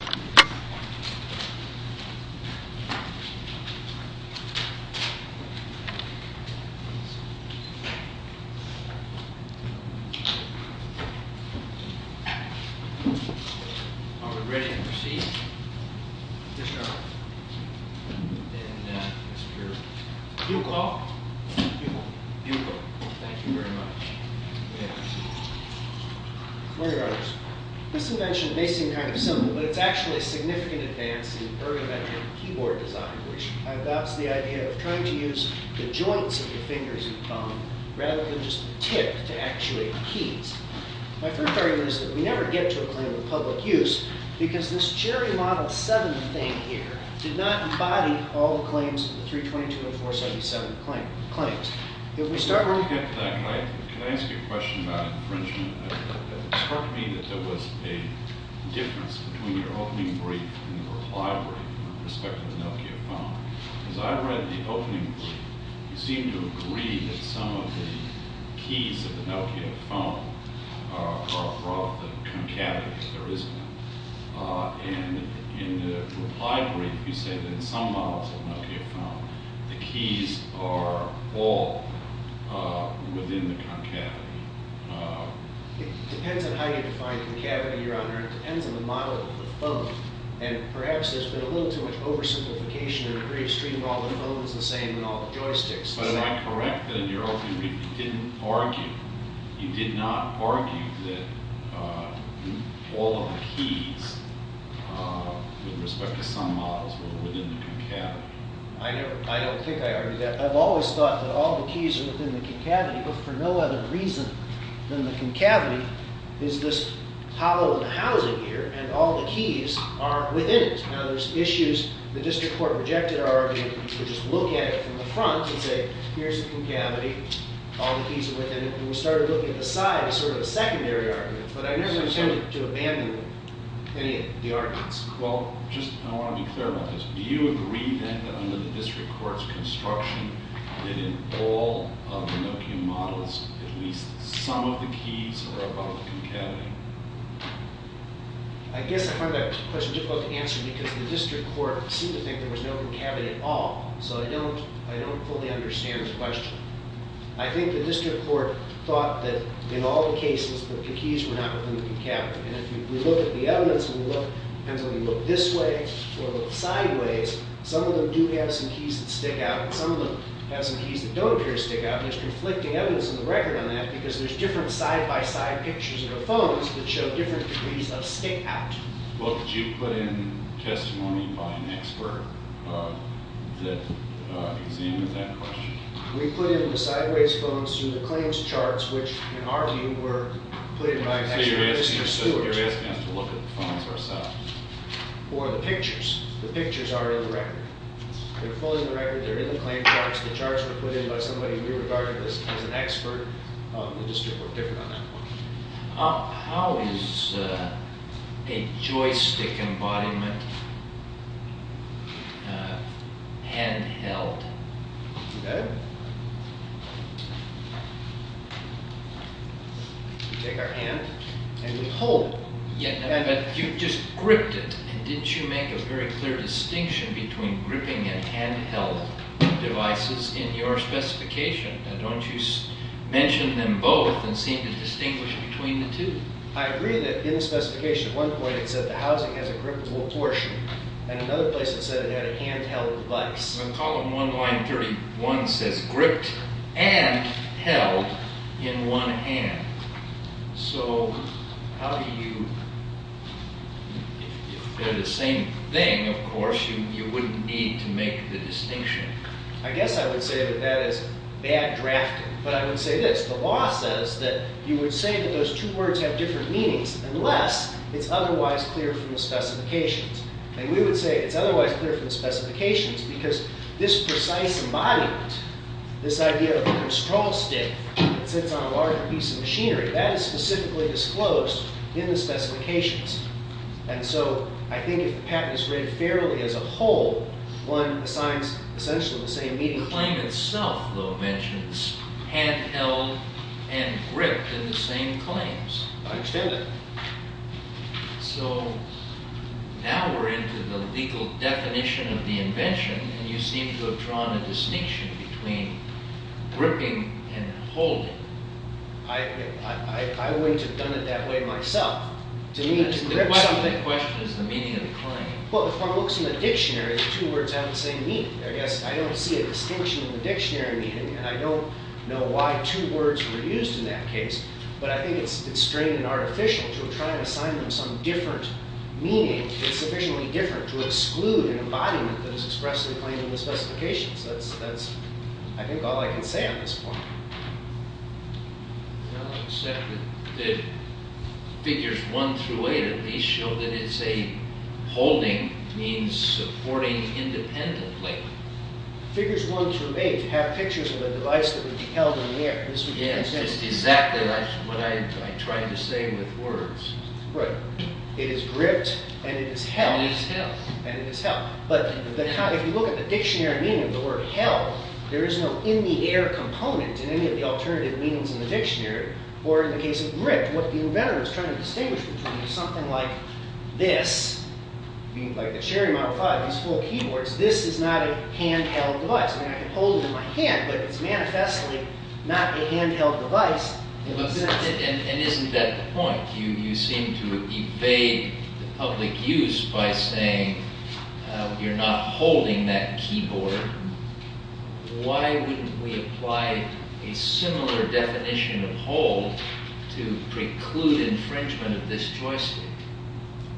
Are we ready to proceed? Yes, Your Honor. Then, Mr. Buchholz? Buchholz. Buchholz. Thank you very much. May I proceed? Morning, Your Honors. This invention may seem kind of simple, but it's actually a significant advance in ergonometric keyboard design, which adopts the idea of trying to use the joints of your fingers and thumb rather than just the tip to actuate keys. My third argument is that we never get to a claim of public use because this Cherry Model 7 thing here did not embody all the claims of the 322 and 477 claims. If we start looking at it that way, can I ask you a question about infringement? It struck me that there was a difference between your opening brief and the reply brief with respect to the Nokia phone. As I read the opening brief, you seem to agree that some of the keys of the Nokia phone are from the concavity. There is none. And in the reply brief, you say that in some models of Nokia phone, the keys are all within the concavity. It depends on how you define concavity, Your Honor. It depends on the model of the phone. And perhaps there's been a little too much oversimplification in the brief, streaming all the phones the same and all the joysticks the same. But am I correct that in your opening brief, you did not argue that all of the keys, with respect to some models, were within the concavity? I don't think I argued that. I've always thought that all the keys are within the concavity. But for no other reason than the concavity is this hollow in the housing here, and all the keys are within it. Now, there's issues the district court rejected our argument. You could just look at it from the front and say, here's the concavity. All the keys are within it. And we started looking at the side as sort of a secondary argument. But I never attempted to abandon any of the arguments. Well, just I want to be clear about this. Do you agree then that under the district court's construction, that in all of the Nokia models, at least some of the keys are above the concavity? I guess I find that question difficult to answer because the district court seemed to think there was no concavity at all. So I don't fully understand the question. I think the district court thought that in all the cases that the keys were not within the concavity. And if we look at the evidence, and we look, it depends whether we look this way or look sideways, some of them do have some keys that stick out, and some of them have some keys that don't appear to stick out. And it's conflicting evidence in the record on that because there's different side-by-side pictures in the phones that show different degrees of stick out. Well, did you put in testimony by an expert that examined that question? We put in the sideways phones through the claims charts, which in our view were put in by an expert. So you're asking us to look at the phones ourselves? Or the pictures. The pictures are in the record. They're fully in the record. They're in the claim charts. The charts were put in by somebody we regarded as an expert. The district court differed on that point. How is a joystick embodiment hand-held? We take our hand and we hold. But you just gripped it, and didn't you make a very clear distinction between gripping and hand-held devices in your specification? Now don't you mention them both and seem to distinguish between the two? I agree that in the specification at one point it said the housing has a grippable portion, and another place it said it had a hand-held device. In column 1, line 31, it says gripped and held in one hand. So how do you... if they're the same thing, of course, you wouldn't need to make the distinction. I guess I would say that that is bad drafting, but I would say this. The law says that you would say that those two words have different meanings unless it's otherwise clear from the specifications. And we would say it's otherwise clear from the specifications because this precise embodiment, this idea of a control stick that sits on a larger piece of machinery, that is specifically disclosed in the specifications. And so I think if the patent is read fairly as a whole, one assigns essentially the same meaning. The claim itself, though, mentions hand-held and gripped in the same claims. I understand that. So now we're into the legal definition of the invention, and you seem to have drawn a distinction between gripping and holding. I wouldn't have done it that way myself. The question is the meaning of the claim. Well, if one looks in the dictionary, the two words have the same meaning. I guess I don't see a distinction in the dictionary meaning, and I don't know why two words were used in that case. But I think it's strange and artificial to try and assign them some different meaning. It's sufficiently different to exclude an embodiment that is expressed in the claim in the specifications. That's, I think, all I can say on this point. Well, except that figures 1 through 8 at least show that it's a holding, means supporting independently. Figures 1 through 8 have pictures of a device that would be held in the air. Yeah, it's exactly what I tried to say with words. Right. It is gripped, and it is held. It is held. And it is held. But if you look at the dictionary meaning of the word held, there is no in-the-air component in any of the alternative meanings in the dictionary. Or in the case of gripped, what the inventor is trying to distinguish between is something like this, like the Cherry Model 5, these full keyboards. This is not a hand-held device. I mean, I can hold it in my hand, but it's manifestly not a hand-held device. And isn't that the point? You seem to evade the public use by saying you're not holding that keyboard. Why wouldn't we apply a similar definition of hold to preclude infringement of this joystick?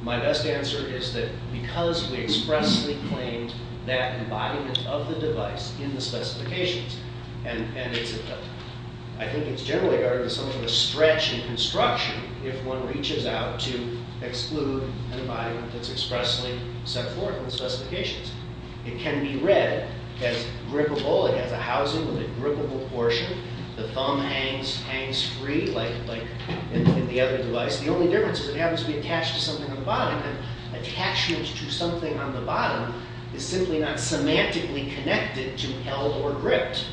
My best answer is that because we expressly claim that embodiment of the device in the specifications, and I think it's generally regarded as some sort of stretch in construction if one reaches out to exclude an embodiment that's expressly set forth in the specifications. It can be read as grippable. It has a housing with a grippable portion. The thumb hangs free like in the other device. The only difference is if it happens to be attached to something on the bottom, the attachment to something on the bottom is simply not semantically connected to held or gripped.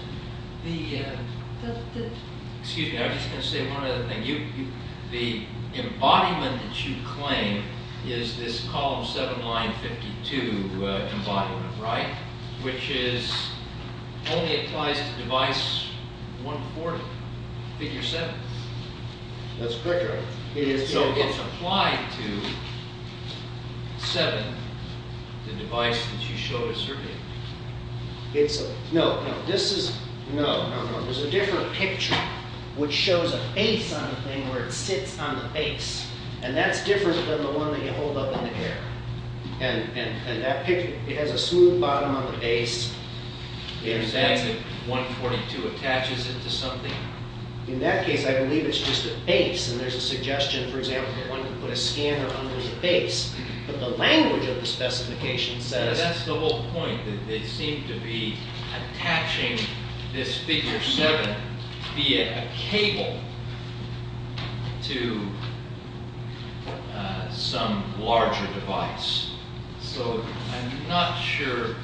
Excuse me, I was just going to say one other thing. The embodiment that you claim is this column 7, line 52 embodiment, right? Which only applies to device 140, figure 7. That's correct, right? So it's applied to 7, the device that you showed us earlier. No, no. There's a different picture which shows a base on the thing where it sits on the base, and that's different than the one that you hold up in the air. And that picture, it has a smooth bottom on the base. You're saying that 142 attaches it to something? In that case, I believe it's just a base. And there's a suggestion, for example, that one could put a scanner under the base. But the language of the specification says… That's the whole point. It seemed to be attaching this figure 7 via a cable to some larger device. So I'm not sure the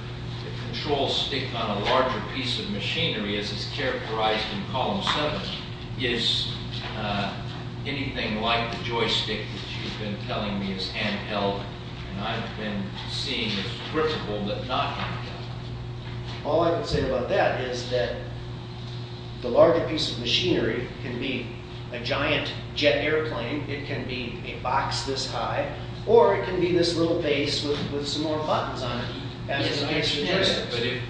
control stick on a larger piece of machinery, as it's characterized in column 7, is anything like the joystick that you've been telling me is handheld. And I've been seeing it's grippable but not handheld. All I can say about that is that the larger piece of machinery can be a giant jet airplane, it can be a box this high, or it can be this little base with some more buttons on it. But if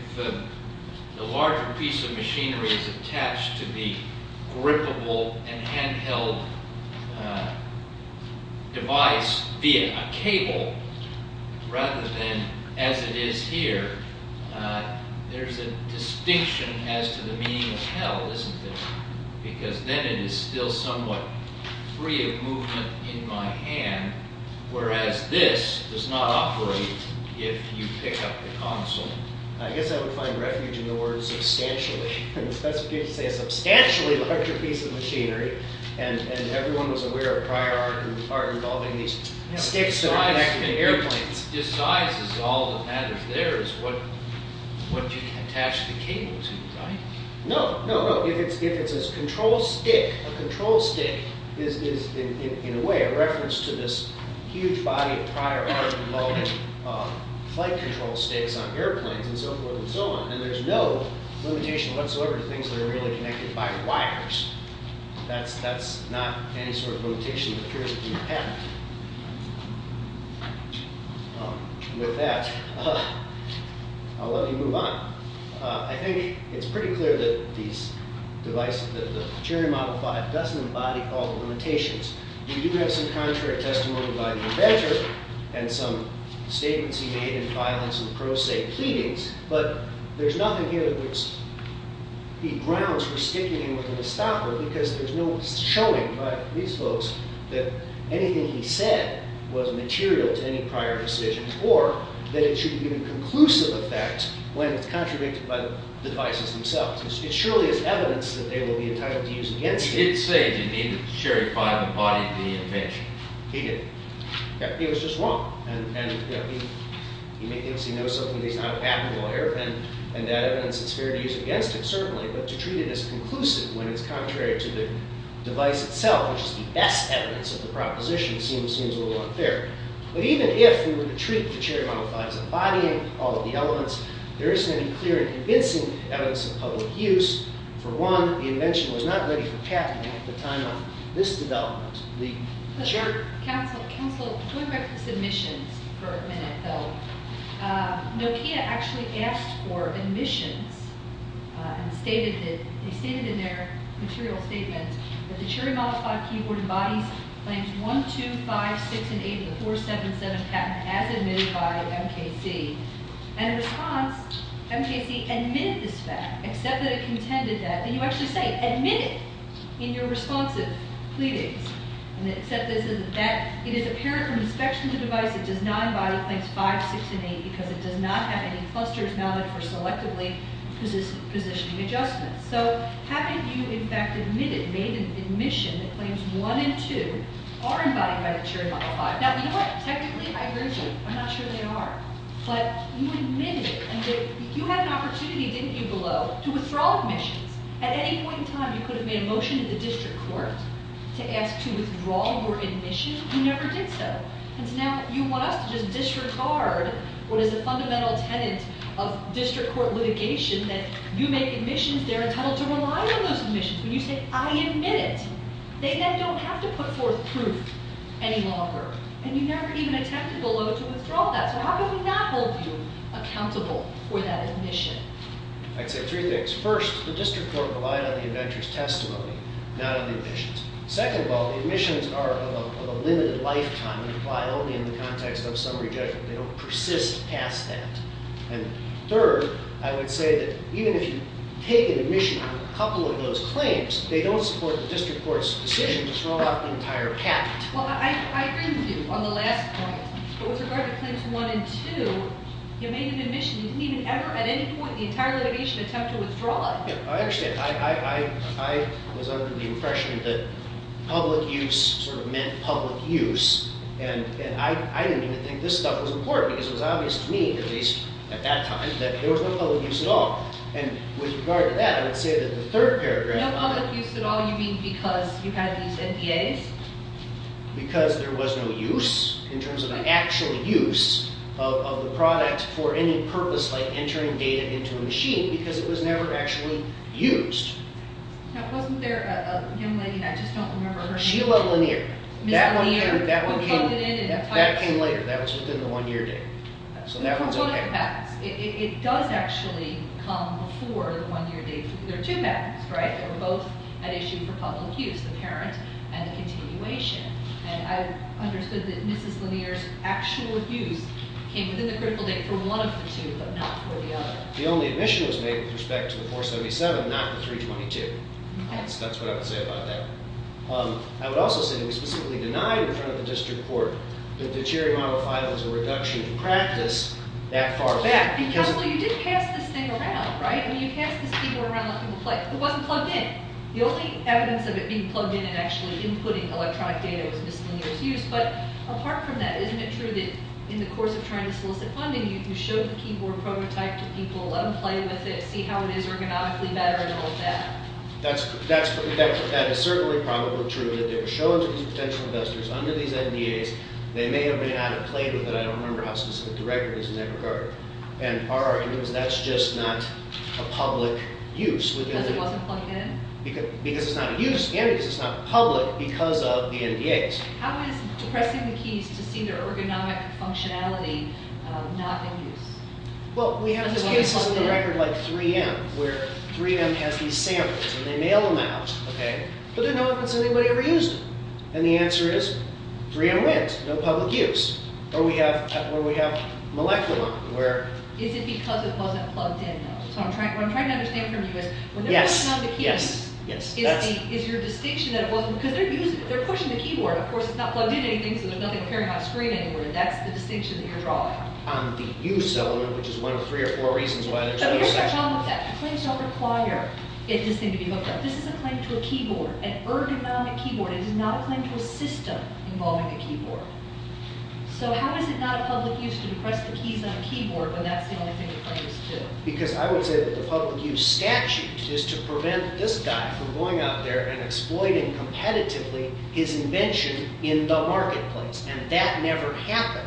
the larger piece of machinery is attached to the grippable and handheld device via a cable, rather than as it is here, there's a distinction as to the meaning of hell, isn't there? Because then it is still somewhat free of movement in my hand, whereas this does not operate if you pick up the console. I guess I would find refuge in the words substantially. The specification says a substantially larger piece of machinery. And everyone was aware of prior art involving these sticks and airplanes. Size is all that matters there is what you attach the cable to, right? No, no, no. If it's a control stick, a control stick is in a way a reference to this huge body of prior art involving flight control sticks on airplanes and so forth and so on. And there's no limitation whatsoever to things that are really connected by wires. That's not any sort of limitation that appears to be a pattern. With that, I'll let you move on. I think it's pretty clear that the Cherry Model 5 doesn't embody all the limitations. We do have some contrary testimony by the inventor, and some statements he made in violence and pro se pleadings, but there's nothing here that grounds for sticking him with a distopper, because there's no showing by these folks that anything he said was material to any prior decision, or that it should be of conclusive effect when it's contradicted by the devices themselves. It surely is evidence that they will be entitled to use against him. He did say that he and the Cherry Model 5 embodied the invention. He did. He was just wrong. He knows something that he's not a patent lawyer, and that evidence is fair to use against him, certainly, but to treat it as conclusive when it's contrary to the device itself, which is the best evidence of the proposition, seems a little unfair. But even if we were to treat the Cherry Model 5 as embodying all of the elements, there isn't any clear and convincing evidence of public use. For one, the invention was not ready for patenting at the time of this development. The... Counselor, going back to submissions for a minute, though, Nokia actually asked for admissions, and they stated in their material statement that the Cherry Model 5 keyboard embodies Claims 1, 2, 5, 6, and 8 of the 477 patent as admitted by MKC. And in response, MKC admitted this fact, except that it contended that... And you actually say, admitted, in your responsive pleadings. And it said that it is apparent from inspection of the device it does not embody Claims 5, 6, and 8 because it does not have any clusters known for selectively positioning adjustments. So, having you, in fact, admitted, made an admission that Claims 1 and 2 are embodied by the Cherry Model 5... Now, you know what? Technically, I agree with you. I'm not sure they are. But you admitted it, and you had an opportunity, didn't you, below, to withdraw admissions. At any point in time, you could have made a motion in the district court to ask to withdraw your admission. You never did so. And so now you want us to just disregard what is a fundamental tenet of district court litigation, that you make admissions, they're entitled to rely on those admissions. When you say, I admit it, they then don't have to put forth proof any longer. And you never even attempted, below, to withdraw that. So how can we not hold you accountable for that admission? I'd say three things. First, the district court relied on the inventor's testimony, not on the admissions. Second of all, the admissions are of a limited lifetime and apply only in the context of summary judgment. They don't persist past that. And third, I would say that even if you take an admission on a couple of those claims, they don't support the district court's decision to throw out the entire patent. Well, I agree with you on the last point. But with regard to claims one and two, you made an admission. You didn't even ever, at any point in the entire litigation, attempt to withdraw it. I understand. I was under the impression that public use sort of meant public use. And I didn't even think this stuff was important, because it was obvious to me, at least at that time, that there was no public use at all. And with regard to that, I would say that the third paragraph of it No public use at all. You mean because you had these NDAs? Because there was no use in terms of the actual use of the product for any purpose like entering data into a machine because it was never actually used. Now, wasn't there a young lady? I just don't remember her name. Sheila Lanier. Ms. Lanier. That came later. That was within the one-year date. So that one's okay. It does actually come before the one-year date. There are two patents, right, that were both at issue for public use, the parent and the continuation. And I understood that Mrs. Lanier's actual use came within the critical date for one of the two but not for the other. The only admission was made with respect to the 477, not the 322. That's what I would say about that. I would also say that we specifically denied in front of the district court that the Cherry Model 5 was a reduction in practice that far back. Well, you did pass this thing around, right? I mean, you passed this thing around. It wasn't plugged in. The only evidence of it being plugged in and actually inputting electronic data was Ms. Lanier's use. But apart from that, isn't it true that in the course of trying to solicit funding, you showed the keyboard prototype to people, let them play with it, see how it is ergonomically better and all of that? That is certainly probably true that they were shown to these potential investors under these NDAs. They may have been out of play with it. I don't remember how specific the record is in that regard. And our argument is that's just not a public use. Because it wasn't plugged in? Because it's not a use and because it's not public because of the NDAs. How is depressing the keys to see their ergonomic functionality not in use? Well, we have cases in the record like 3M where 3M has these samples and they mail them out, okay? But they don't know if anybody ever used them. And the answer is 3M wins. No public use. Or we have Moleculon where... Is it because it wasn't plugged in, though? What I'm trying to understand from you is when they're working on the keys, is your distinction that it wasn't because they're pushing the keyboard. Of course, it's not plugged in or anything, so there's nothing carrying that screen anywhere. That's the distinction that you're drawing. On the use element, which is one of three or four reasons why there's no use. Here's the problem with that. Claims don't require this thing to be hooked up. This is a claim to a keyboard, an ergonomic keyboard. It is not a claim to a system involving a keyboard. So how is it not a public use to depress the keys on a keyboard when that's the only thing it claims to? Because I would say that the public use statute is to prevent this guy from going out there and exploiting competitively his invention in the marketplace. And that never happened.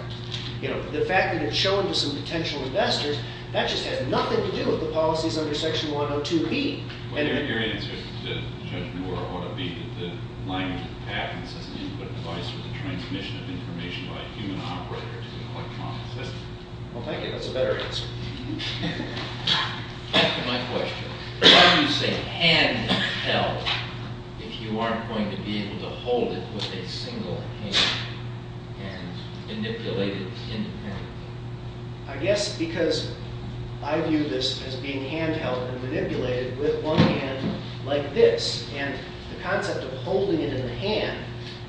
The fact that it's shown to some potential investors, that just has nothing to do with the policies under Section 102B. Well, your answer to Judge Moore ought to be that the language of patents is an input device for the transmission of information by a human operator to the electronic system. Well, thank you. That's a better answer. Back to my question. Why do you say handheld if you aren't going to be able to hold it with a single hand and manipulate it independently? I guess because I view this as being handheld and manipulated with one hand like this. And the concept of holding it in the hand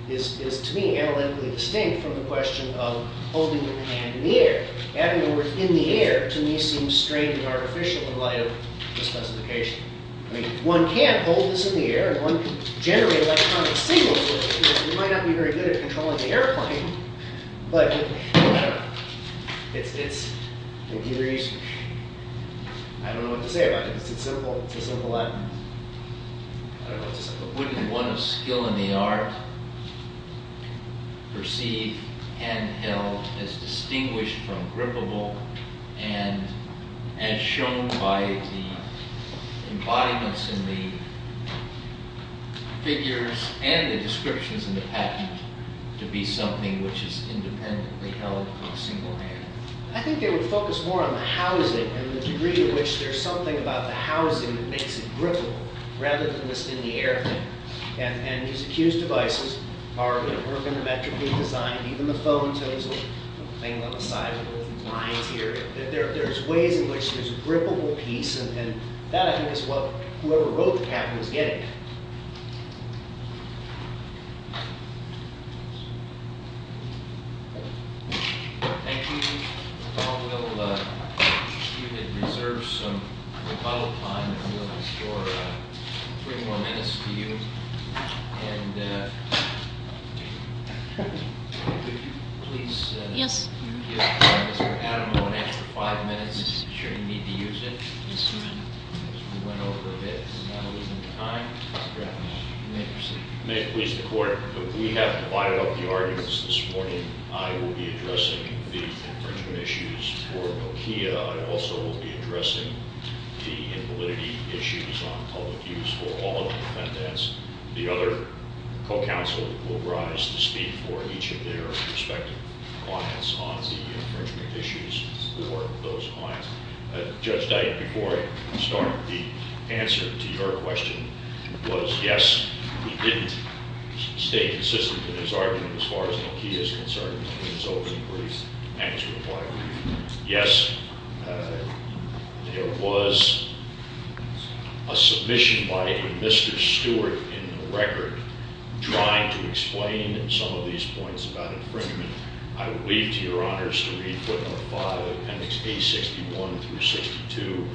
is to me analytically distinct from the question of holding the hand in the air. Adding the word in the air to me seems strange and artificial in light of the specification. I mean, one can't hold this in the air and one can generate electronic signals with it. You might not be very good at controlling the airplane. But, I don't know. It's, in theory, I don't know what to say about it. It's a simple act. I don't know what to say. But wouldn't one of skill in the art perceive handheld as distinguished from grippable and as shown by the embodiments in the figures and the descriptions in the package to be something which is independently held with a single hand? I think they would focus more on the housing and the degree to which there's something about the housing that makes it grippable rather than just in the air. And these accused devices are going to work in a metrically designed, even the phone tones, the thing on the side with the lines here. There's ways in which there's a grippable piece and that, I think, is what whoever wrote the package was getting. Thank you. We'll see if it reserves some rebuttal time and we'll restore three more minutes to you. Yes. May it please the Court, we have divided up the arguments this morning. I will be addressing the infringement issues for Nokia. I also will be addressing the invalidity issues on public use for all the defendants. The other co-counsel will rise to speak for each of their respective clients on the infringement issues for those clients. Judge Dyke, before I start, the answer to your question was yes, he didn't stay consistent in his argument as far as Nokia is concerned in his opening brief and his reply. Yes, there was a submission by Mr. Stewart in the record trying to explain some of these points about infringement. I would leave to your honors to read footnote 5, appendix A61 through 62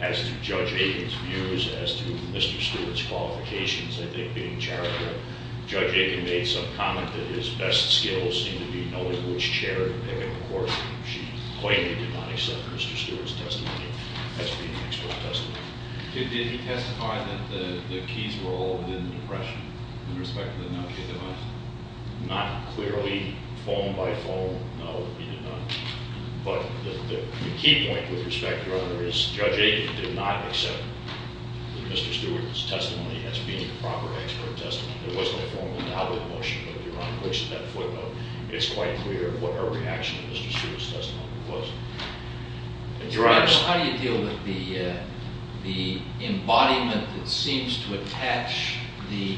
as to Judge Aiken's views as to Mr. Stewart's qualifications, I think, being charitable. Judge Aiken made some comment that his best skills seem to be knowing which chair to pick and, of course, she plainly did not accept Mr. Stewart's testimony as being an expert testimony. Did he testify that the keys were all in the depression in respect to the Nokia device? Not clearly, phone by phone, no, he did not. But the key point with respect to your honor is Judge Aiken did not accept Mr. Stewart's testimony as being a proper expert testimony. There wasn't a formal nod with the motion, but if your honor looks at that footnote, it's quite clear what her reaction to Mr. Stewart's testimony was. Your honor, how do you deal with the embodiment that seems to attach the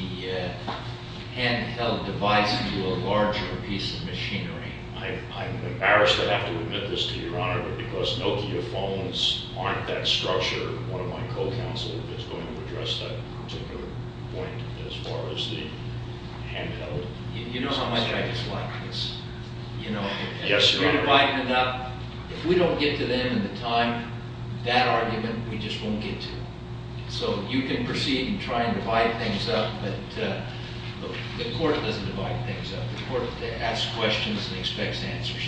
handheld device to a larger piece of machinery? I'm embarrassed to have to admit this to your honor, but because Nokia phones aren't that structure, one of my co-counsel is going to address that particular point as far as the handheld. You know how much I dislike this. You're dividing it up. If we don't get to them in the time, that argument we just won't get to. So you can proceed and try and divide things up, but the court doesn't divide things up. The court asks questions and expects answers.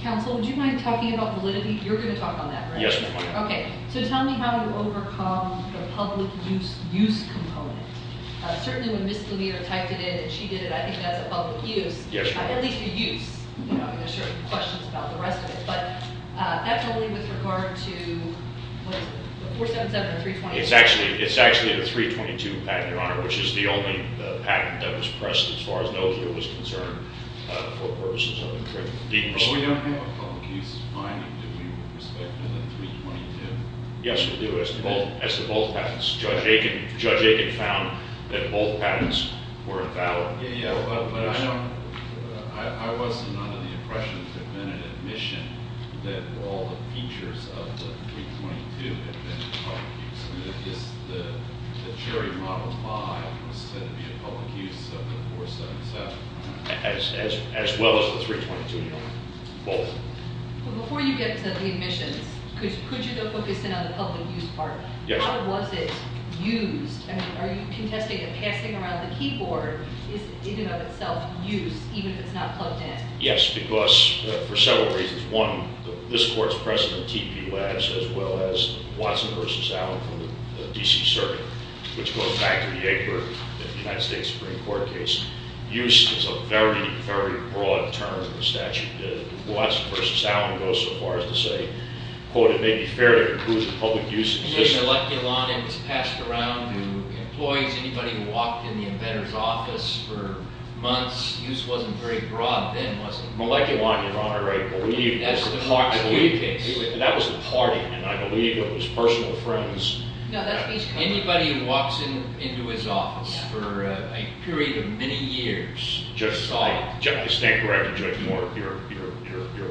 Counsel, would you mind talking about validity? You're going to talk on that, right? Yes, ma'am. Okay, so tell me how you overcome the public use component. Certainly when Ms. Lamita typed it in and she did it, I think that's a public use. Yes, your honor. At least a use. I mean, there's certain questions about the rest of it, but that's only with regard to 477 and 322. It's actually the 322 patent, your honor, which is the only patent that was pressed as far as Nokia was concerned for purposes of encryption. We don't have a public use finding, do we, with respect to the 322? Yes, we do. As to both patents, Judge Aiken found that both patents were valid. Yeah, yeah, but I wasn't under the impression that there had been an admission that all the features of the 322 had been in public use. The Cherry Model 5 was said to be in public use of the 477. As well as the 322, your honor. Both. Before you get to the admissions, could you focus in on the public use part? Yes. How was it used? I mean, are you contesting that passing around the keyboard is, in and of itself, use, even if it's not plugged in? Yes, because for several reasons. One, this court's precedent, TP Labs, as well as Watson v. Allen from the D.C. Circuit, which goes back to the Egbert United States Supreme Court case, use is a very, very broad term in the statute. Watson v. Allen goes so far as to say, quote, it may be fair to include the public use of the system. And then Moleculon, it was passed around to employees, anybody who walked in the embedder's office for months, use wasn't very broad then, was it? Moleculon, your honor, I believe, That was the Marx case. That was the party, and I believe it was personal friends. Anybody who walks into his office for a period of many years, I stand corrected, Judge Moore, you're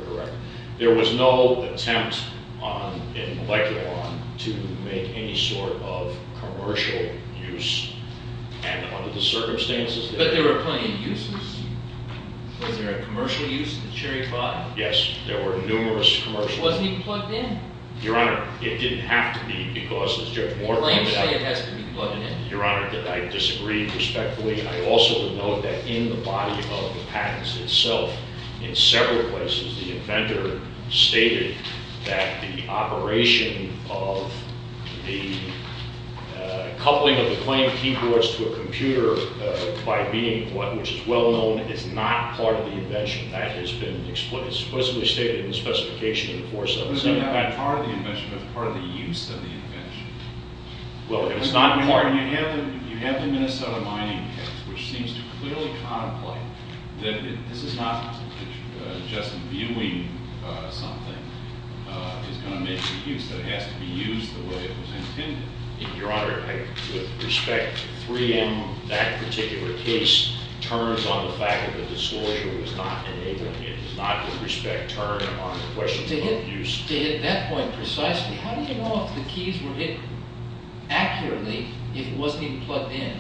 correct. There was no attempt in Moleculon to make any sort of commercial use. And under the circumstances, But there were plenty of uses. Was there a commercial use of the Cherry 5? Yes, there were numerous commercial uses. Wasn't it plugged in? Your honor, it didn't have to be because, as Judge Moore pointed out, The claims say it has to be plugged in. Your honor, I disagree respectfully. I also note that in the body of the patents itself, in several places, the inventor stated that the operation of the coupling of the claimed keyboards to a computer, which is well known, is not part of the invention. That has been explicitly stated in the specification of the 477 patent. It's not part of the invention, but it's part of the use of the invention. You have the Minnesota mining case, which seems to clearly contemplate that this is not just viewing something. It's going to make the use. It has to be used the way it was intended. Your honor, with respect, 3M, that particular case, turns on the fact that the disclosure was not enabling it. It does not, with respect, turn on the question of use. To hit that point precisely, how do you know if the keys were hit accurately, if it wasn't even plugged in?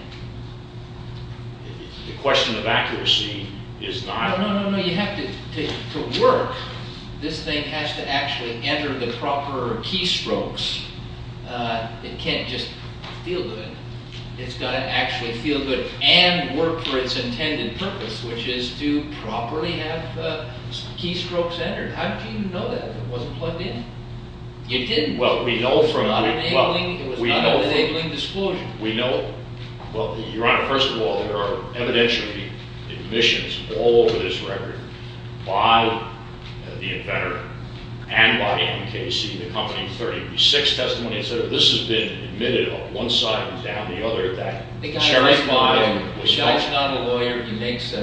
The question of accuracy is not... No, no, no, no, you have to work. This thing has to actually enter the proper keystrokes. It can't just feel good. It's got to actually feel good and work for its intended purpose, which is to properly have keystrokes entered. How do you know that it wasn't plugged in? You didn't. Well, we know from... It was not enabling disclosure. We know... Well, your honor, first of all, there are evidentially admissions all over this record by the inventor and by MKC, the company, 36 testimonies that this has been admitted, on one side and down the other, that... Sheriff's not a lawyer. He makes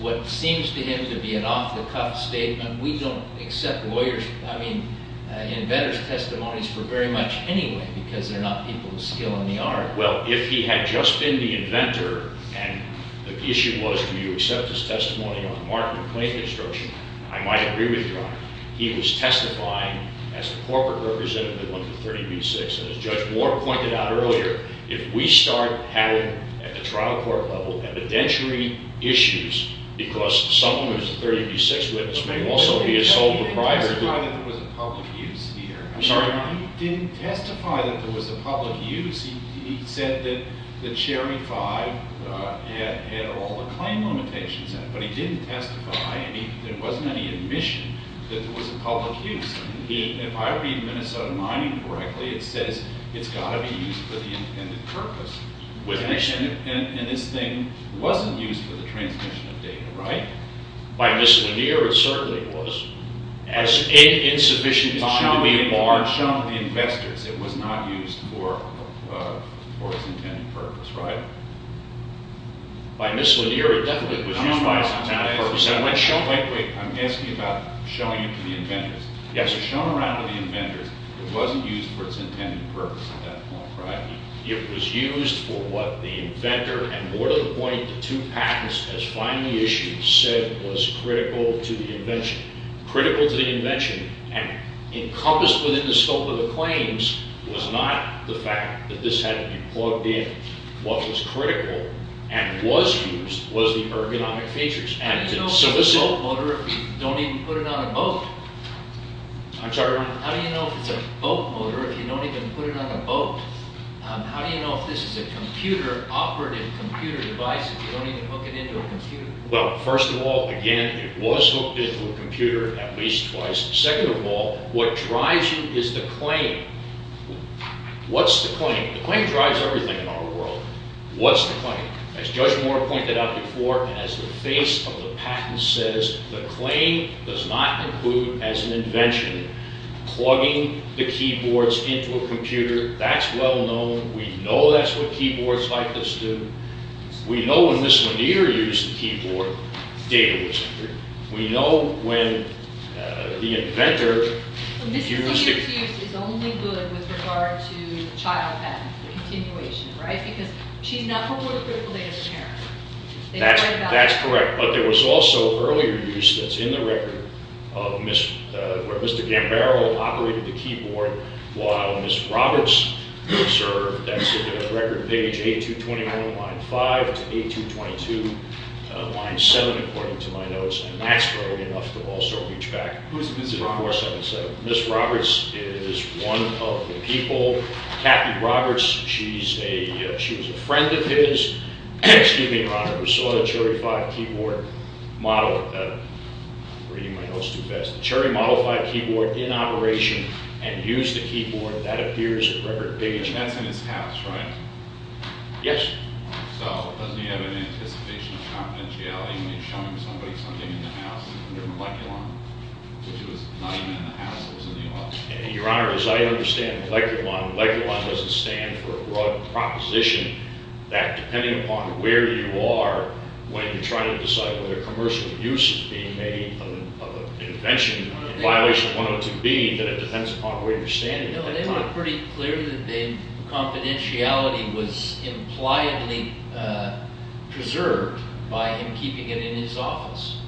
what seems to him to be an off-the-cuff statement. We don't accept lawyers. I mean, inventors' testimonies for very much anyway because they're not people with skill in the art. Well, if he had just been the inventor and the issue was do you accept his testimony on the mark of complaint construction, I might agree with your honor. He was testifying as a corporate representative of the 30B6. And as Judge Moore pointed out earlier, if we start having, at the trial court level, evidentiary issues because someone who is a 30B6 witness may also be a sole proprietor... He didn't testify that there was a public use here. I'm sorry? He didn't testify that there was a public use. He said that the Cherry 5 had all the claim limitations in it, but he didn't testify, and there wasn't any admission that there was a public use. If I read Minnesota Mining correctly, it says it's got to be used for the intended purpose. And this thing wasn't used for the transmission of data, right? By miscellanear, it certainly was. As insufficient... It was shown to the investors. It was not used for its intended purpose, right? By miscellanear, it definitely was used for its intended purpose. Wait, wait. I'm asking about showing it to the inventors. It was shown around to the inventors. It wasn't used for its intended purpose at that point, right? It was used for what the inventor and more to the point the two patents as finally issued said was critical to the invention. Critical to the invention and encompassed within the scope of the claims was not the fact that this had to be plugged in. What was critical and was used was the ergonomic features. How do you know if it's a boat motor if you don't even put it on a boat? I'm sorry? How do you know if it's a boat motor if you don't even put it on a boat? How do you know if this is a computer, if you don't even hook it into a computer? Well, first of all, again, it was hooked into a computer at least twice. Second of all, what drives you is the claim. What's the claim? The claim drives everything in our world. What's the claim? As Judge Moore pointed out before and as the face of the patent says, the claim does not include as an invention plugging the keyboards into a computer. That's well known. We know that's what keyboards like this do. We know when Ms. Lanier used the keyboard, data was entered. We know when the inventor used it. But Ms. Lanier's use is only good with regard to the child patent continuation, right? Because she's not homeward critical data carrier. That's correct. But there was also earlier use that's in the record of where Mr. Gambaro operated the keyboard while Ms. Roberts served. That's in the record page 8221, line 5 to 8222, line 7 according to my notes. And that's early enough to also reach back. Who's Ms. Roberts? Ms. Roberts is one of the people. Kathy Roberts, she was a friend of his, excuse me, Your Honor, who saw the Cherry 5 keyboard model. I'm reading my notes too fast. The Cherry Model 5 keyboard in operation and used the keyboard that appears in the record page. That's in his house, right? Yes. So doesn't he have an anticipation of confidentiality when he's showing somebody something in the house under moleculon, which was not even in the house, it was in the office? Your Honor, as I understand, moleculon doesn't stand for a broad proposition that depending upon where you are when you're trying to decide whether commercial use is being made of an invention, a violation of 102B, that it depends upon where you're standing at that time. No, they were pretty clear that the confidentiality was impliedly preserved by him keeping it in his office.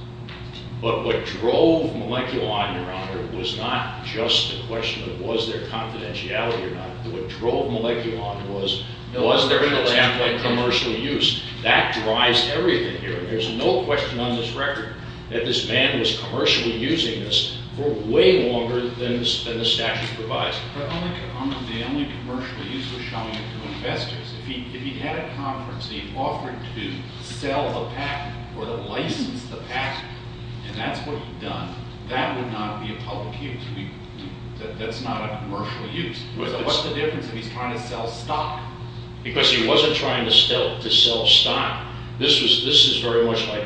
But what drove moleculon, Your Honor, was not just a question of was there confidentiality or not. What drove moleculon was, was there an attempt at commercial use? That drives everything here. There's no question on this record that this man was commercially using this for way longer than the statute provides. Your Honor, the only commercial use was showing it to investors. If he had a conference and he offered to sell the patent or to license the patent, and that's what he'd done, that would not be a public use. That's not a commercial use. What's the difference if he's trying to sell stock? Because he wasn't trying to sell stock. This is very much like,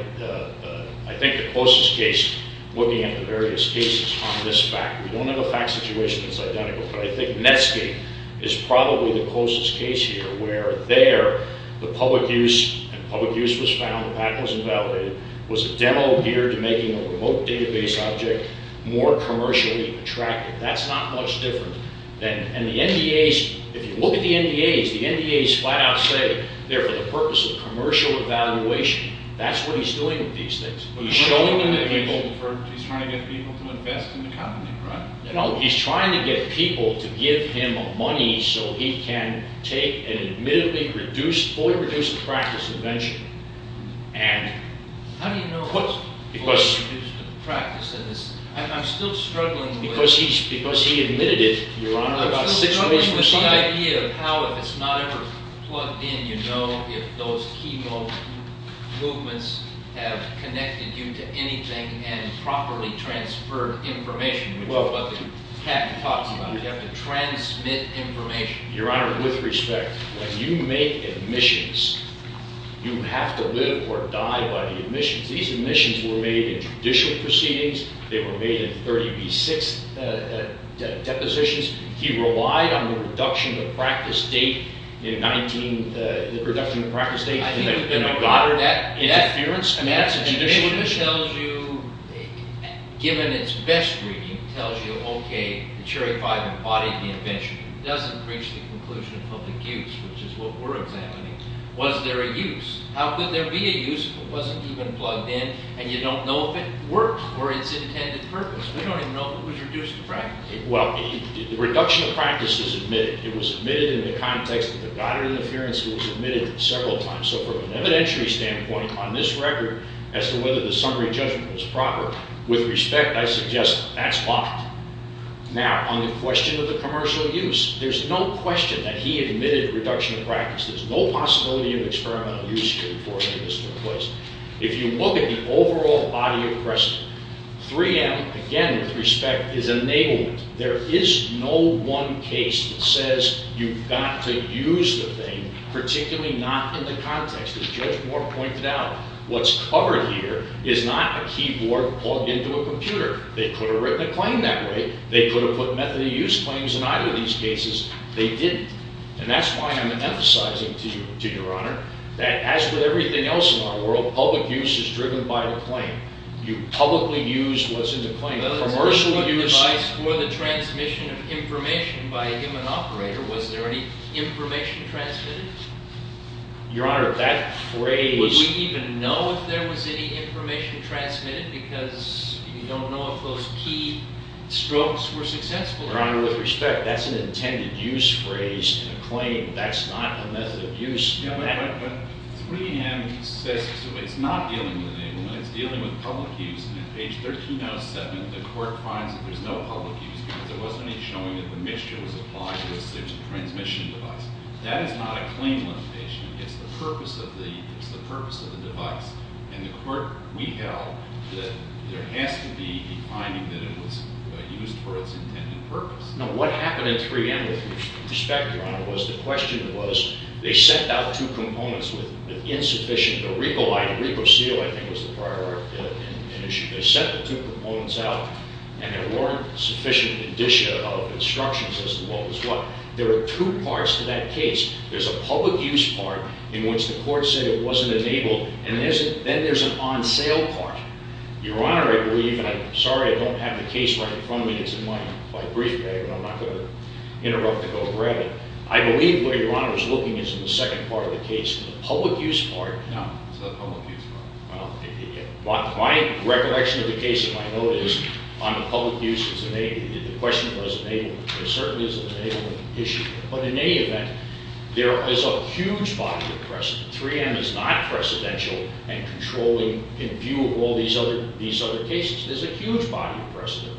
I think, the closest case looking at the various cases on this fact. We don't have a fact situation that's identical, but I think Netscape is probably the closest case here where there the public use, and public use was found, the patent was invalidated, was a demo geared to making a remote database object more commercially attractive. That's not much different than, and the NDAs, if you look at the NDAs, the NDAs flat out say they're for the purpose of commercial evaluation. That's what he's doing with these things. He's trying to get people to invest in the company, right? No, he's trying to get people to give him money so he can take an admittedly reduced, fully reduced to practice invention. How do you know it's fully reduced to practice? I'm still struggling with... Because he admitted it, Your Honor, about six weeks from Sunday. I'm still struggling with the idea of how, if it's not ever plugged in, how do you know if those key movements have connected you to anything and properly transferred information? That's what the patent talks about. You have to transmit information. Your Honor, with respect, when you make admissions, you have to live or die by the admissions. These admissions were made in judicial proceedings. They were made in 30B6 depositions. He relied on the reduction of practice date in 19, the reduction of practice date, and that interference? That's a judicial admission. It tells you, given its best reading, tells you, okay, the Cherry 5 embodied the invention. It doesn't reach the conclusion of public use, which is what we're examining. Was there a use? How could there be a use if it wasn't even plugged in and you don't know if it worked or its intended purpose? We don't even know if it was reduced to practice. Well, the reduction of practice is admitted. It was admitted in the context of the Goddard interference. It was admitted several times. So from an evidentiary standpoint, on this record, as to whether the summary judgment was proper, with respect, I suggest that's blocked. Now, on the question of the commercial use, there's no question that he admitted reduction of practice. There's no possibility of experimental use here before it was put in place. If you look at the overall body of precedent, 3M, again, with respect, is enablement. There is no one case that says you've got to use the thing, particularly not in the context, as Judge Moore pointed out. What's covered here is not a keyboard plugged into a computer. They could have written a claim that way. They could have put method of use claims in either of these cases. They didn't. And that's why I'm emphasizing to you, Your Honor, that as with everything else in our world, public use is driven by the claim. You publicly use what's in the claim. Commercial use... Your Honor, that phrase... Your Honor, with respect, that's an intended use phrase in a claim. That's not a method of use. The court finds that there's no public use because there wasn't any showing that the mixture was applied because there's a transmission device. That is not a claim limitation. It's the purpose of the device. And the court... We held that there has to be a finding that it was used for its intended purpose. Now, what happened in 3M, with respect, Your Honor, was the question was, they sent out two components with insufficient... The Rico-Seal, I think, was the prior... They sent the two components out and there weren't sufficient indicia of instructions as to what was what. There are two parts to that case. There's a public use part in which the court said it wasn't enabled, and then there's an on-sale part. Your Honor, I believe, and I'm sorry I don't have the case right in front of me. It's in my brief bag, but I'm not going to interrupt it or grab it. I believe where Your Honor is looking is in the second part of the case, the public use part. No, it's the public use part. My recollection of the case, if I know it, is on the public use, the question was enablement. There certainly is an enablement issue. But in any event, there is a huge body of precedent. 3M is not precedential and controlling in view of all these other cases. There's a huge body of precedent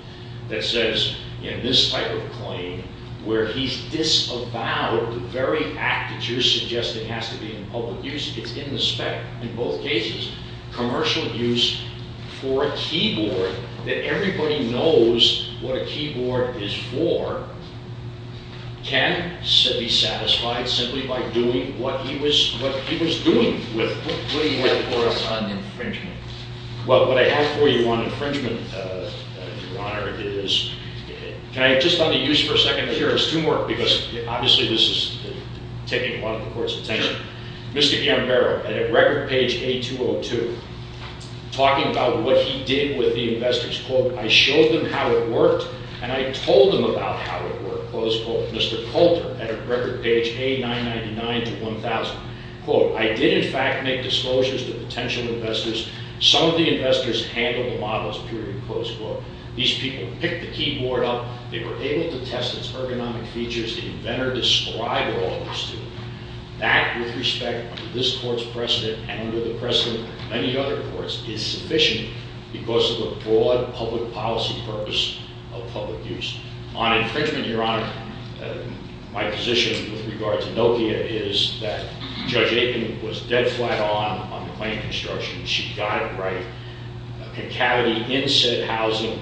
that says in this type of claim where he's disavowed the very act that you're suggesting has to be in public use. It's in the spec in both cases. Commercial use for a keyboard that everybody knows what a keyboard is for can be satisfied simply by doing what he was doing with it. What do you have for us on infringement? Well, what I have for you on infringement, Your Honor, is... Can I just on the use for a second? Here, there's two more because obviously this is taking a lot of the Court's attention. Mr. Gambaro, at record page A202, talking about what he did with the investors, quote, I showed them how it worked and I told them about how it worked, close quote. Mr. Coulter, at record page A999-1000, quote, I did in fact make disclosures to potential investors. Some of the investors handled the models, period, close quote. These people picked the keyboard up. They were able to test its ergonomic features. The inventor described all this to them. That, with respect to this Court's precedent and under the precedent of many other courts, is sufficient because of the broad public policy purpose of public use. On infringement, Your Honor, my position with regard to Nokia is that Judge Aitken was dead flat on on the claim construction. She got it right. Concavity in said housing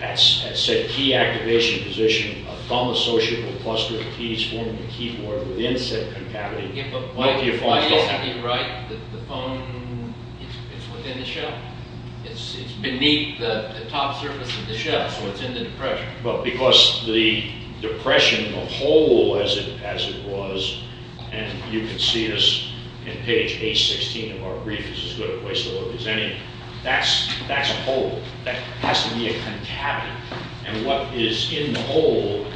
at said key activation position, a thumb associated with clustering of keys forming a keyboard within said concavity. Why do you think he's right? The phone is within the shell? It's beneath the top surface of the shell so it's in the depression. Well, because the depression, the hole as it was, and you can see this in page A16 of our brief, is as good a place to look as any. That's a hole. That has to be a concavity. And what is in the hole,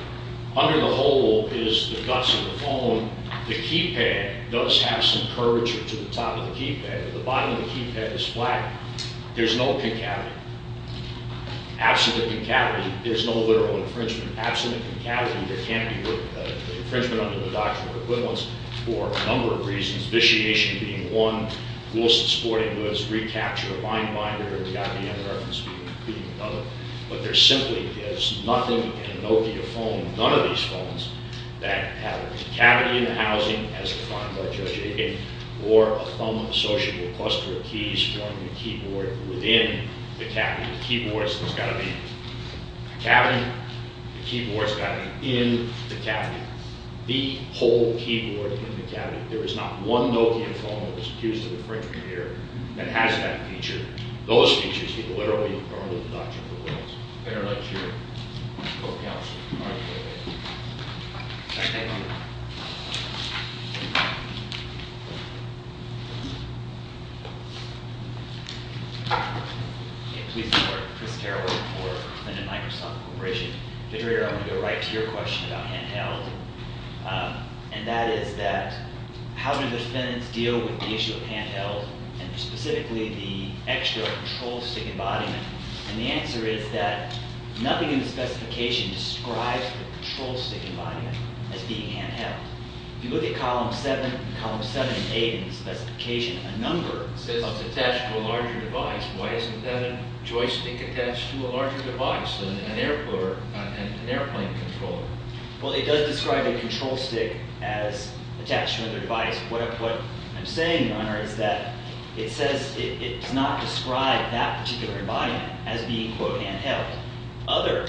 under the hole is the guts of the phone. The keypad does have some curvature to the top of the keypad, but the bottom of the keypad is flat. There's no concavity. Absolute concavity. There's no literal infringement. Absolute concavity. There can be infringement under the doctrinal equivalence for a number of reasons, vitiation being one, Wilson Sporting Goods, reCAPTCHA, Linebinder, the IBM reference being another. But there simply is nothing in a Nokia phone, none of these phones, that have a cavity in the housing as defined by Judge Aiken, or a thumb-associable cluster of keys forming the keyboard within the cavity. The keyboard's got to be in the cavity. The keyboard's got to be in the cavity. The whole keyboard in the cavity. There is not one Nokia phone that was accused of infringement here that has that feature. Those features could literally be part of the doctrinal equivalence. I'd better let you go to counsel. All right, go ahead. All right, thank you. Please support Chris Carroll for Lyndon Microsoft Corporation. Federator, I want to go right to your question about handheld, and that is that how do defendants deal with the issue of handheld, and specifically, the extra control stick embodiment? And the answer is that nothing in the specification describes the control stick embodiment as being handheld. If you look at Columns 7 and 8 in the specification, a number of systems attached to a larger device. Why isn't that a joystick attached to a larger device than an airplane controller? Well, it does describe a control stick as attached to another device. What I'm saying, Your Honor, is that it says it does not describe that particular embodiment as being, quote, handheld. Other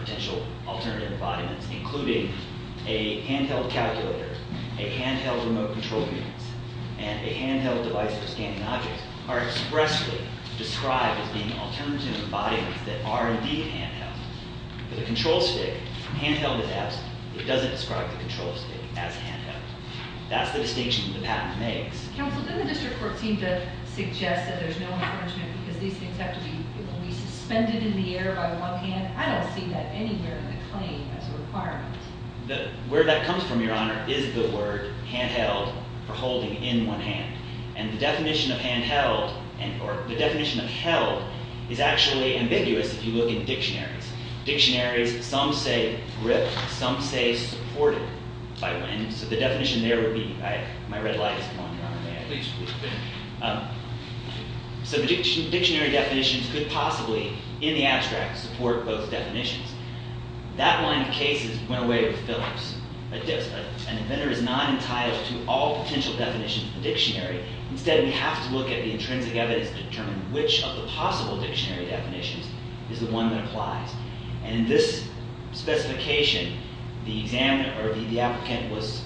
potential alternative embodiments, including a handheld calculator, a handheld remote control unit, and a handheld device for scanning objects, are expressly described as being alternative embodiments that are indeed handheld. But a control stick, from handheld to that, it doesn't describe the control stick as handheld. That's the distinction the patent makes. Counsel, doesn't the district court seem to suggest that there's no infringement because these things have to be suspended in the air by one hand? I don't see that anywhere in the claim as a requirement. Where that comes from, Your Honor, is the word handheld for holding in one hand. And the definition of handheld or the definition of held is actually ambiguous if you look in dictionaries. Dictionaries, some say gripped, some say supported by wind. So the definition there would be My red light is on, Your Honor. May I? Please, please. So the dictionary definitions could possibly, in the abstract, support both definitions. That line of cases went away with Phillips. An inventor is not entitled to all potential definitions of the dictionary. Instead, we have to look at the intrinsic evidence to determine which of the possible dictionary definitions is the one that applies. And in this specification, the applicant was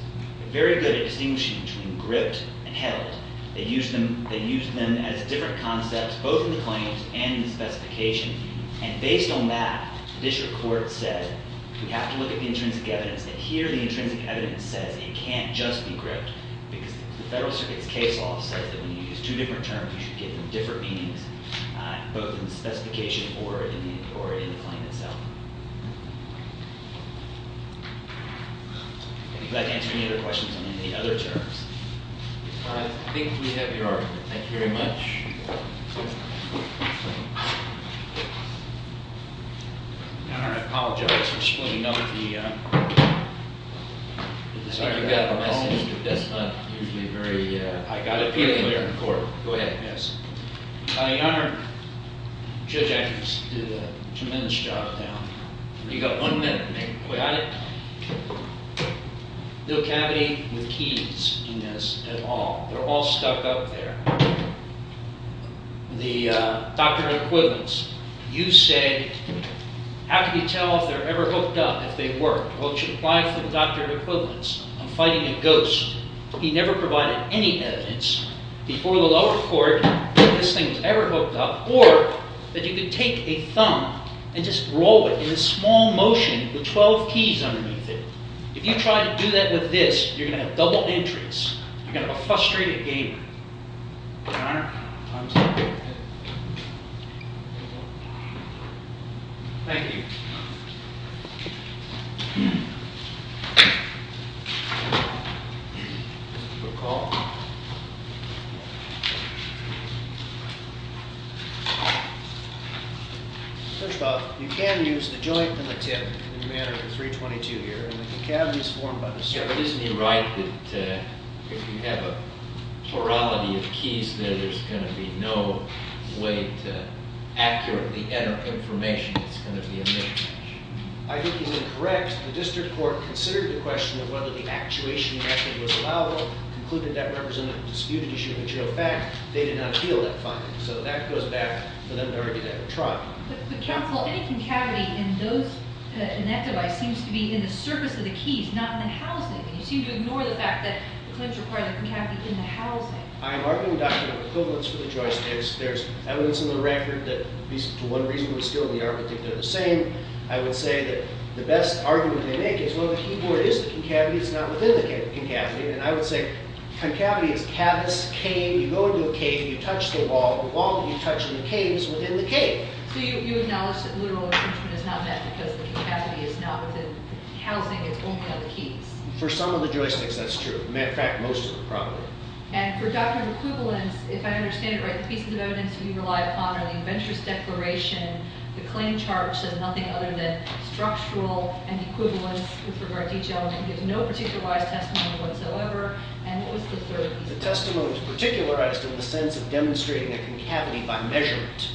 very good at distinguishing between gripped and held. They used them as different concepts both in the claims and in the specification. And based on that, the district court said we have to look at the intrinsic evidence that here the intrinsic evidence says it can't just be gripped because the Federal Circuit's case law says that when you use two different terms, you should give them different meanings both in the specification or in the claim itself. I'd be glad to answer any other questions on any other terms. I think we have your argument. Thank you very much. Your Honor, I apologize for splitting up the... I think you got the message, but that's not usually very... I got it. Go ahead. Yes. Your Honor, Judge Atkins did a tremendous job. You got one minute to make a point. Got it. No cavity with keys in this at all. They're all stuck up there. The Doctor of Equivalence, you said, how can you tell if they're ever hooked up if they weren't? Well, it should apply to the Doctor of Equivalence. I'm fighting a ghost. He never provided any evidence before the lower court that this thing was ever hooked up or that you could take a thumb and just roll it in a small motion with 12 keys underneath it. If you try to do that with this, you're going to have double entries. You're going to have a frustrated gamer. Your Honor, I'm sorry. Thank you. Your call. Judge Bob, you can use the joint and the tip in the manner of the 322 here. The cavity is formed by the circle. Isn't he right that if you have a plurality of keys there, there's going to be no way to accurately enter information? It's going to be a mismatch. I think he's incorrect. The district court considered the question of whether the actuation method was allowable, concluded that represented a disputed issue which, in fact, they did not appeal that finding. So that goes back to them to argue that we're trying. But counsel, any concavity in that device seems to be in the surface of the keys, not in the housing. You seem to ignore the fact that the claims require the concavity in the housing. I am arguing, Doctor, that equivalence for the joystick is there's evidence in the record that to one reason or skill in the argument that they're the same. I would say that the best argument they make is, well, the keyboard is the concavity. It's not within the concavity. And I would say concavity is cavus, cave. You go into a cave. You touch the wall. The wall that you touch in the cave is within the cave. So you acknowledge that literal infringement is not met because the concavity is not within the housing. It's only on the keys. For some of the joysticks, that's true. As a matter of fact, most of them probably. And for document equivalence, if I understand it right, the pieces of evidence you rely upon are the adventurous declaration, the claim charge says nothing other than structural and equivalence with regard to each element. There's no particularized testimony whatsoever. And what was the third piece? The testimony was particularized in the sense of demonstrating a concavity by measurement.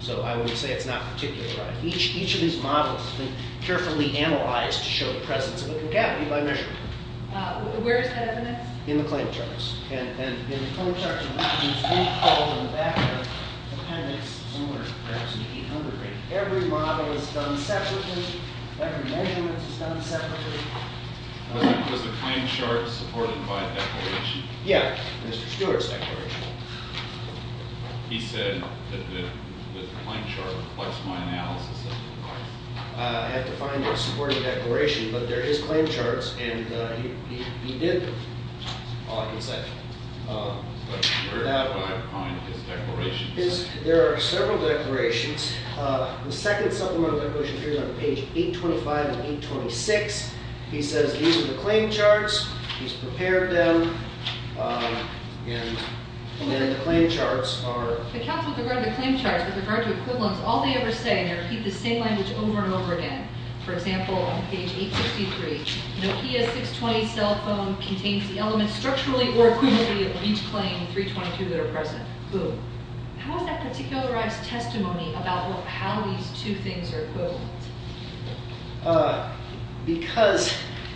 So I would say it's not particularized. Each of these models has been carefully analyzed to show the presence of a concavity by measurement. Where is that evidence? In the claim charts. And in the claim charts, you can see in the back there, the appendix is somewhere perhaps in the 800 range. Every model is done separately. Every measurement is done separately. Was the claim chart supported by a declaration? Yeah. Mr. Stewart's declaration. He said that the claim chart reflects my analysis. I have to find what supported the declaration, but they're his claim charts, and he did them. All I can say. But where do I find his declarations? There are several declarations. The second supplemental declaration appears on page 825 and 826. He says these are the claim charts. He's prepared them. And then the claim charts are... The counts with regard to the claim charts, with regard to equivalents, all they ever say, they repeat the same language over and over again. For example, on page 863, Nokia 620 cell phone contains the elements structurally or equivalently of each claim 322 that are present. Boom. How is that particularized testimony about how these two things are equivalent? Because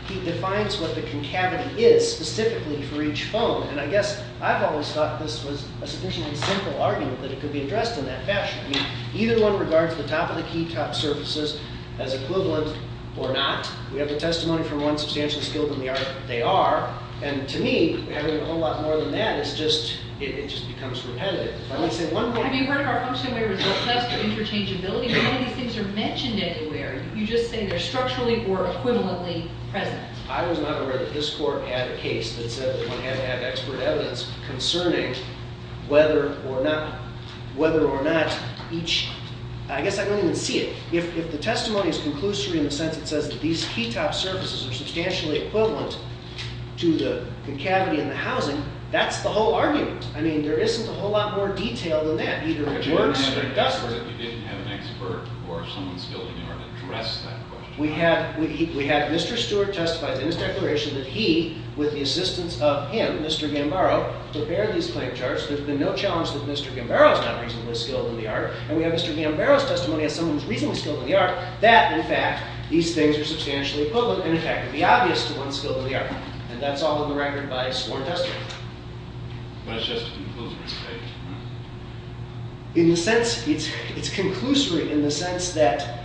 he defines what the concavity is specifically for each phone. And I guess I've always thought this was a sufficiently simple argument that it could be addressed in that fashion. I mean, either one regards the top of the keytop surfaces as equivalent or not. We have the testimony from one substantial skilled in the art. They are. And to me, having a whole lot more than that is just... It just becomes repetitive. If I may say one thing... I mean, weren't our functional way results less of interchangeability? None of these things are mentioned anywhere. You just say they're structurally or equivalently present. I was not aware that this court had a case that said that one had to have expert evidence concerning whether or not whether or not each... I guess I don't even see it. If the testimony is conclusive in the sense that it says that these keytop surfaces are substantially equivalent to the cavity in the housing, that's the whole argument. I mean, there isn't a whole lot more detail than that. Either it works or it doesn't. You didn't have an expert or someone skilled in the art to address that question. We have... Mr. Stewart testifies in his declaration that he, with the assistance of him, Mr. Gambaro, prepared these claim charts. There's been no challenge that Mr. Gambaro's not reasonably skilled in the art. And we have Mr. Gambaro's testimony as someone who's reasonably skilled in the art that, in fact, these things are substantially equivalent and, in fact, would be obvious to one skilled in the art. And that's all on the record by sworn testimony. But it's just a conclusory statement. In the sense... It's conclusory in the sense that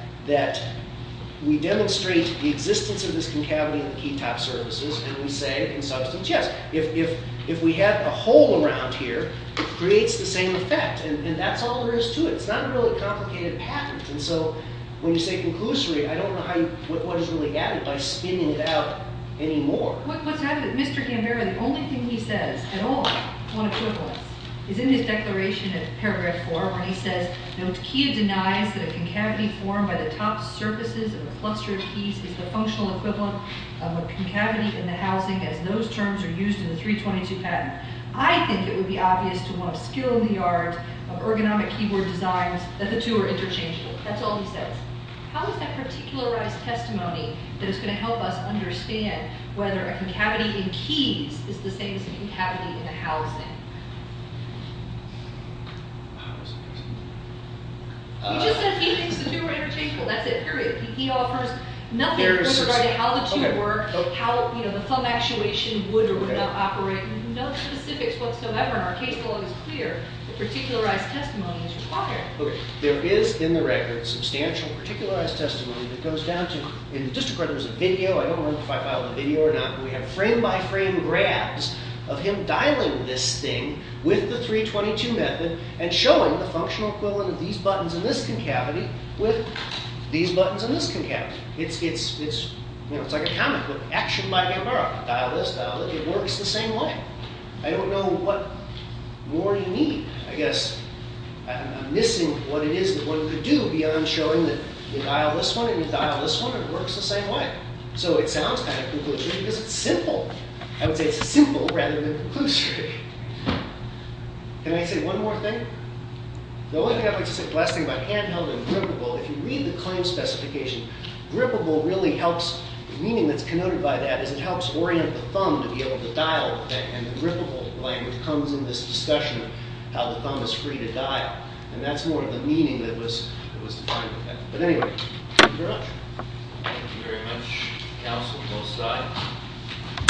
we demonstrate the existence of this concavity in the key-top surfaces and we say, in substance, yes, if we have a hole around here, it creates the same effect. And that's all there is to it. It's not a really complicated pattern. And so when you say conclusory, I don't know how you... what is really added by spinning it out anymore. What's happened is that Mr. Gambaro, the only thing he says at all on equivalence is in his declaration in paragraph 4 where he says, no, the key denies that a concavity formed by the top surfaces of a cluster of keys is the functional equivalent of a concavity in the housing as those terms are used in the 322 patent. I think it would be obvious to one of skill in the art of ergonomic keyboard designs that the two are interchangeable. That's all he says. How is that particularized testimony that is going to help us understand whether a concavity in keys is the same as a concavity in a housing? He just said he thinks the two are interchangeable. That's it, period. He offers nothing in terms of how the two work, how the thumb actuation would or would not operate. No specifics whatsoever. Our case law is clear. The particularized testimony is required. There is in the record substantial particularized testimony that goes down to in the district court there's a video, I don't know if I filed a video or not, but we have frame-by-frame grabs of him dialing this thing with the 322 method and showing the functional equivalent of these buttons in this concavity with these buttons in this concavity. It's like a comic book. Action by Gambaro. Dial this, dial that. It works the same way. I don't know what more you need. I guess I'm missing what it is that one could do beyond showing that you dial this one and you dial this one and it works the same way. So it sounds kind of conclusory because it's simple. I would say it's simple rather than conclusory. Can I say one more thing? The only thing I'd like to say is the last thing about handheld and printable, if you read the claim specification, grippable really helps, the meaning that's connoted by that is it helps orient the thumb to be able to dial the thing. And the grippable language comes in this discussion of how the thumb is free to dial. And that's more of the meaning that was defined with that. But anyway, thank you very much. Thank you very much, counsel, both sides.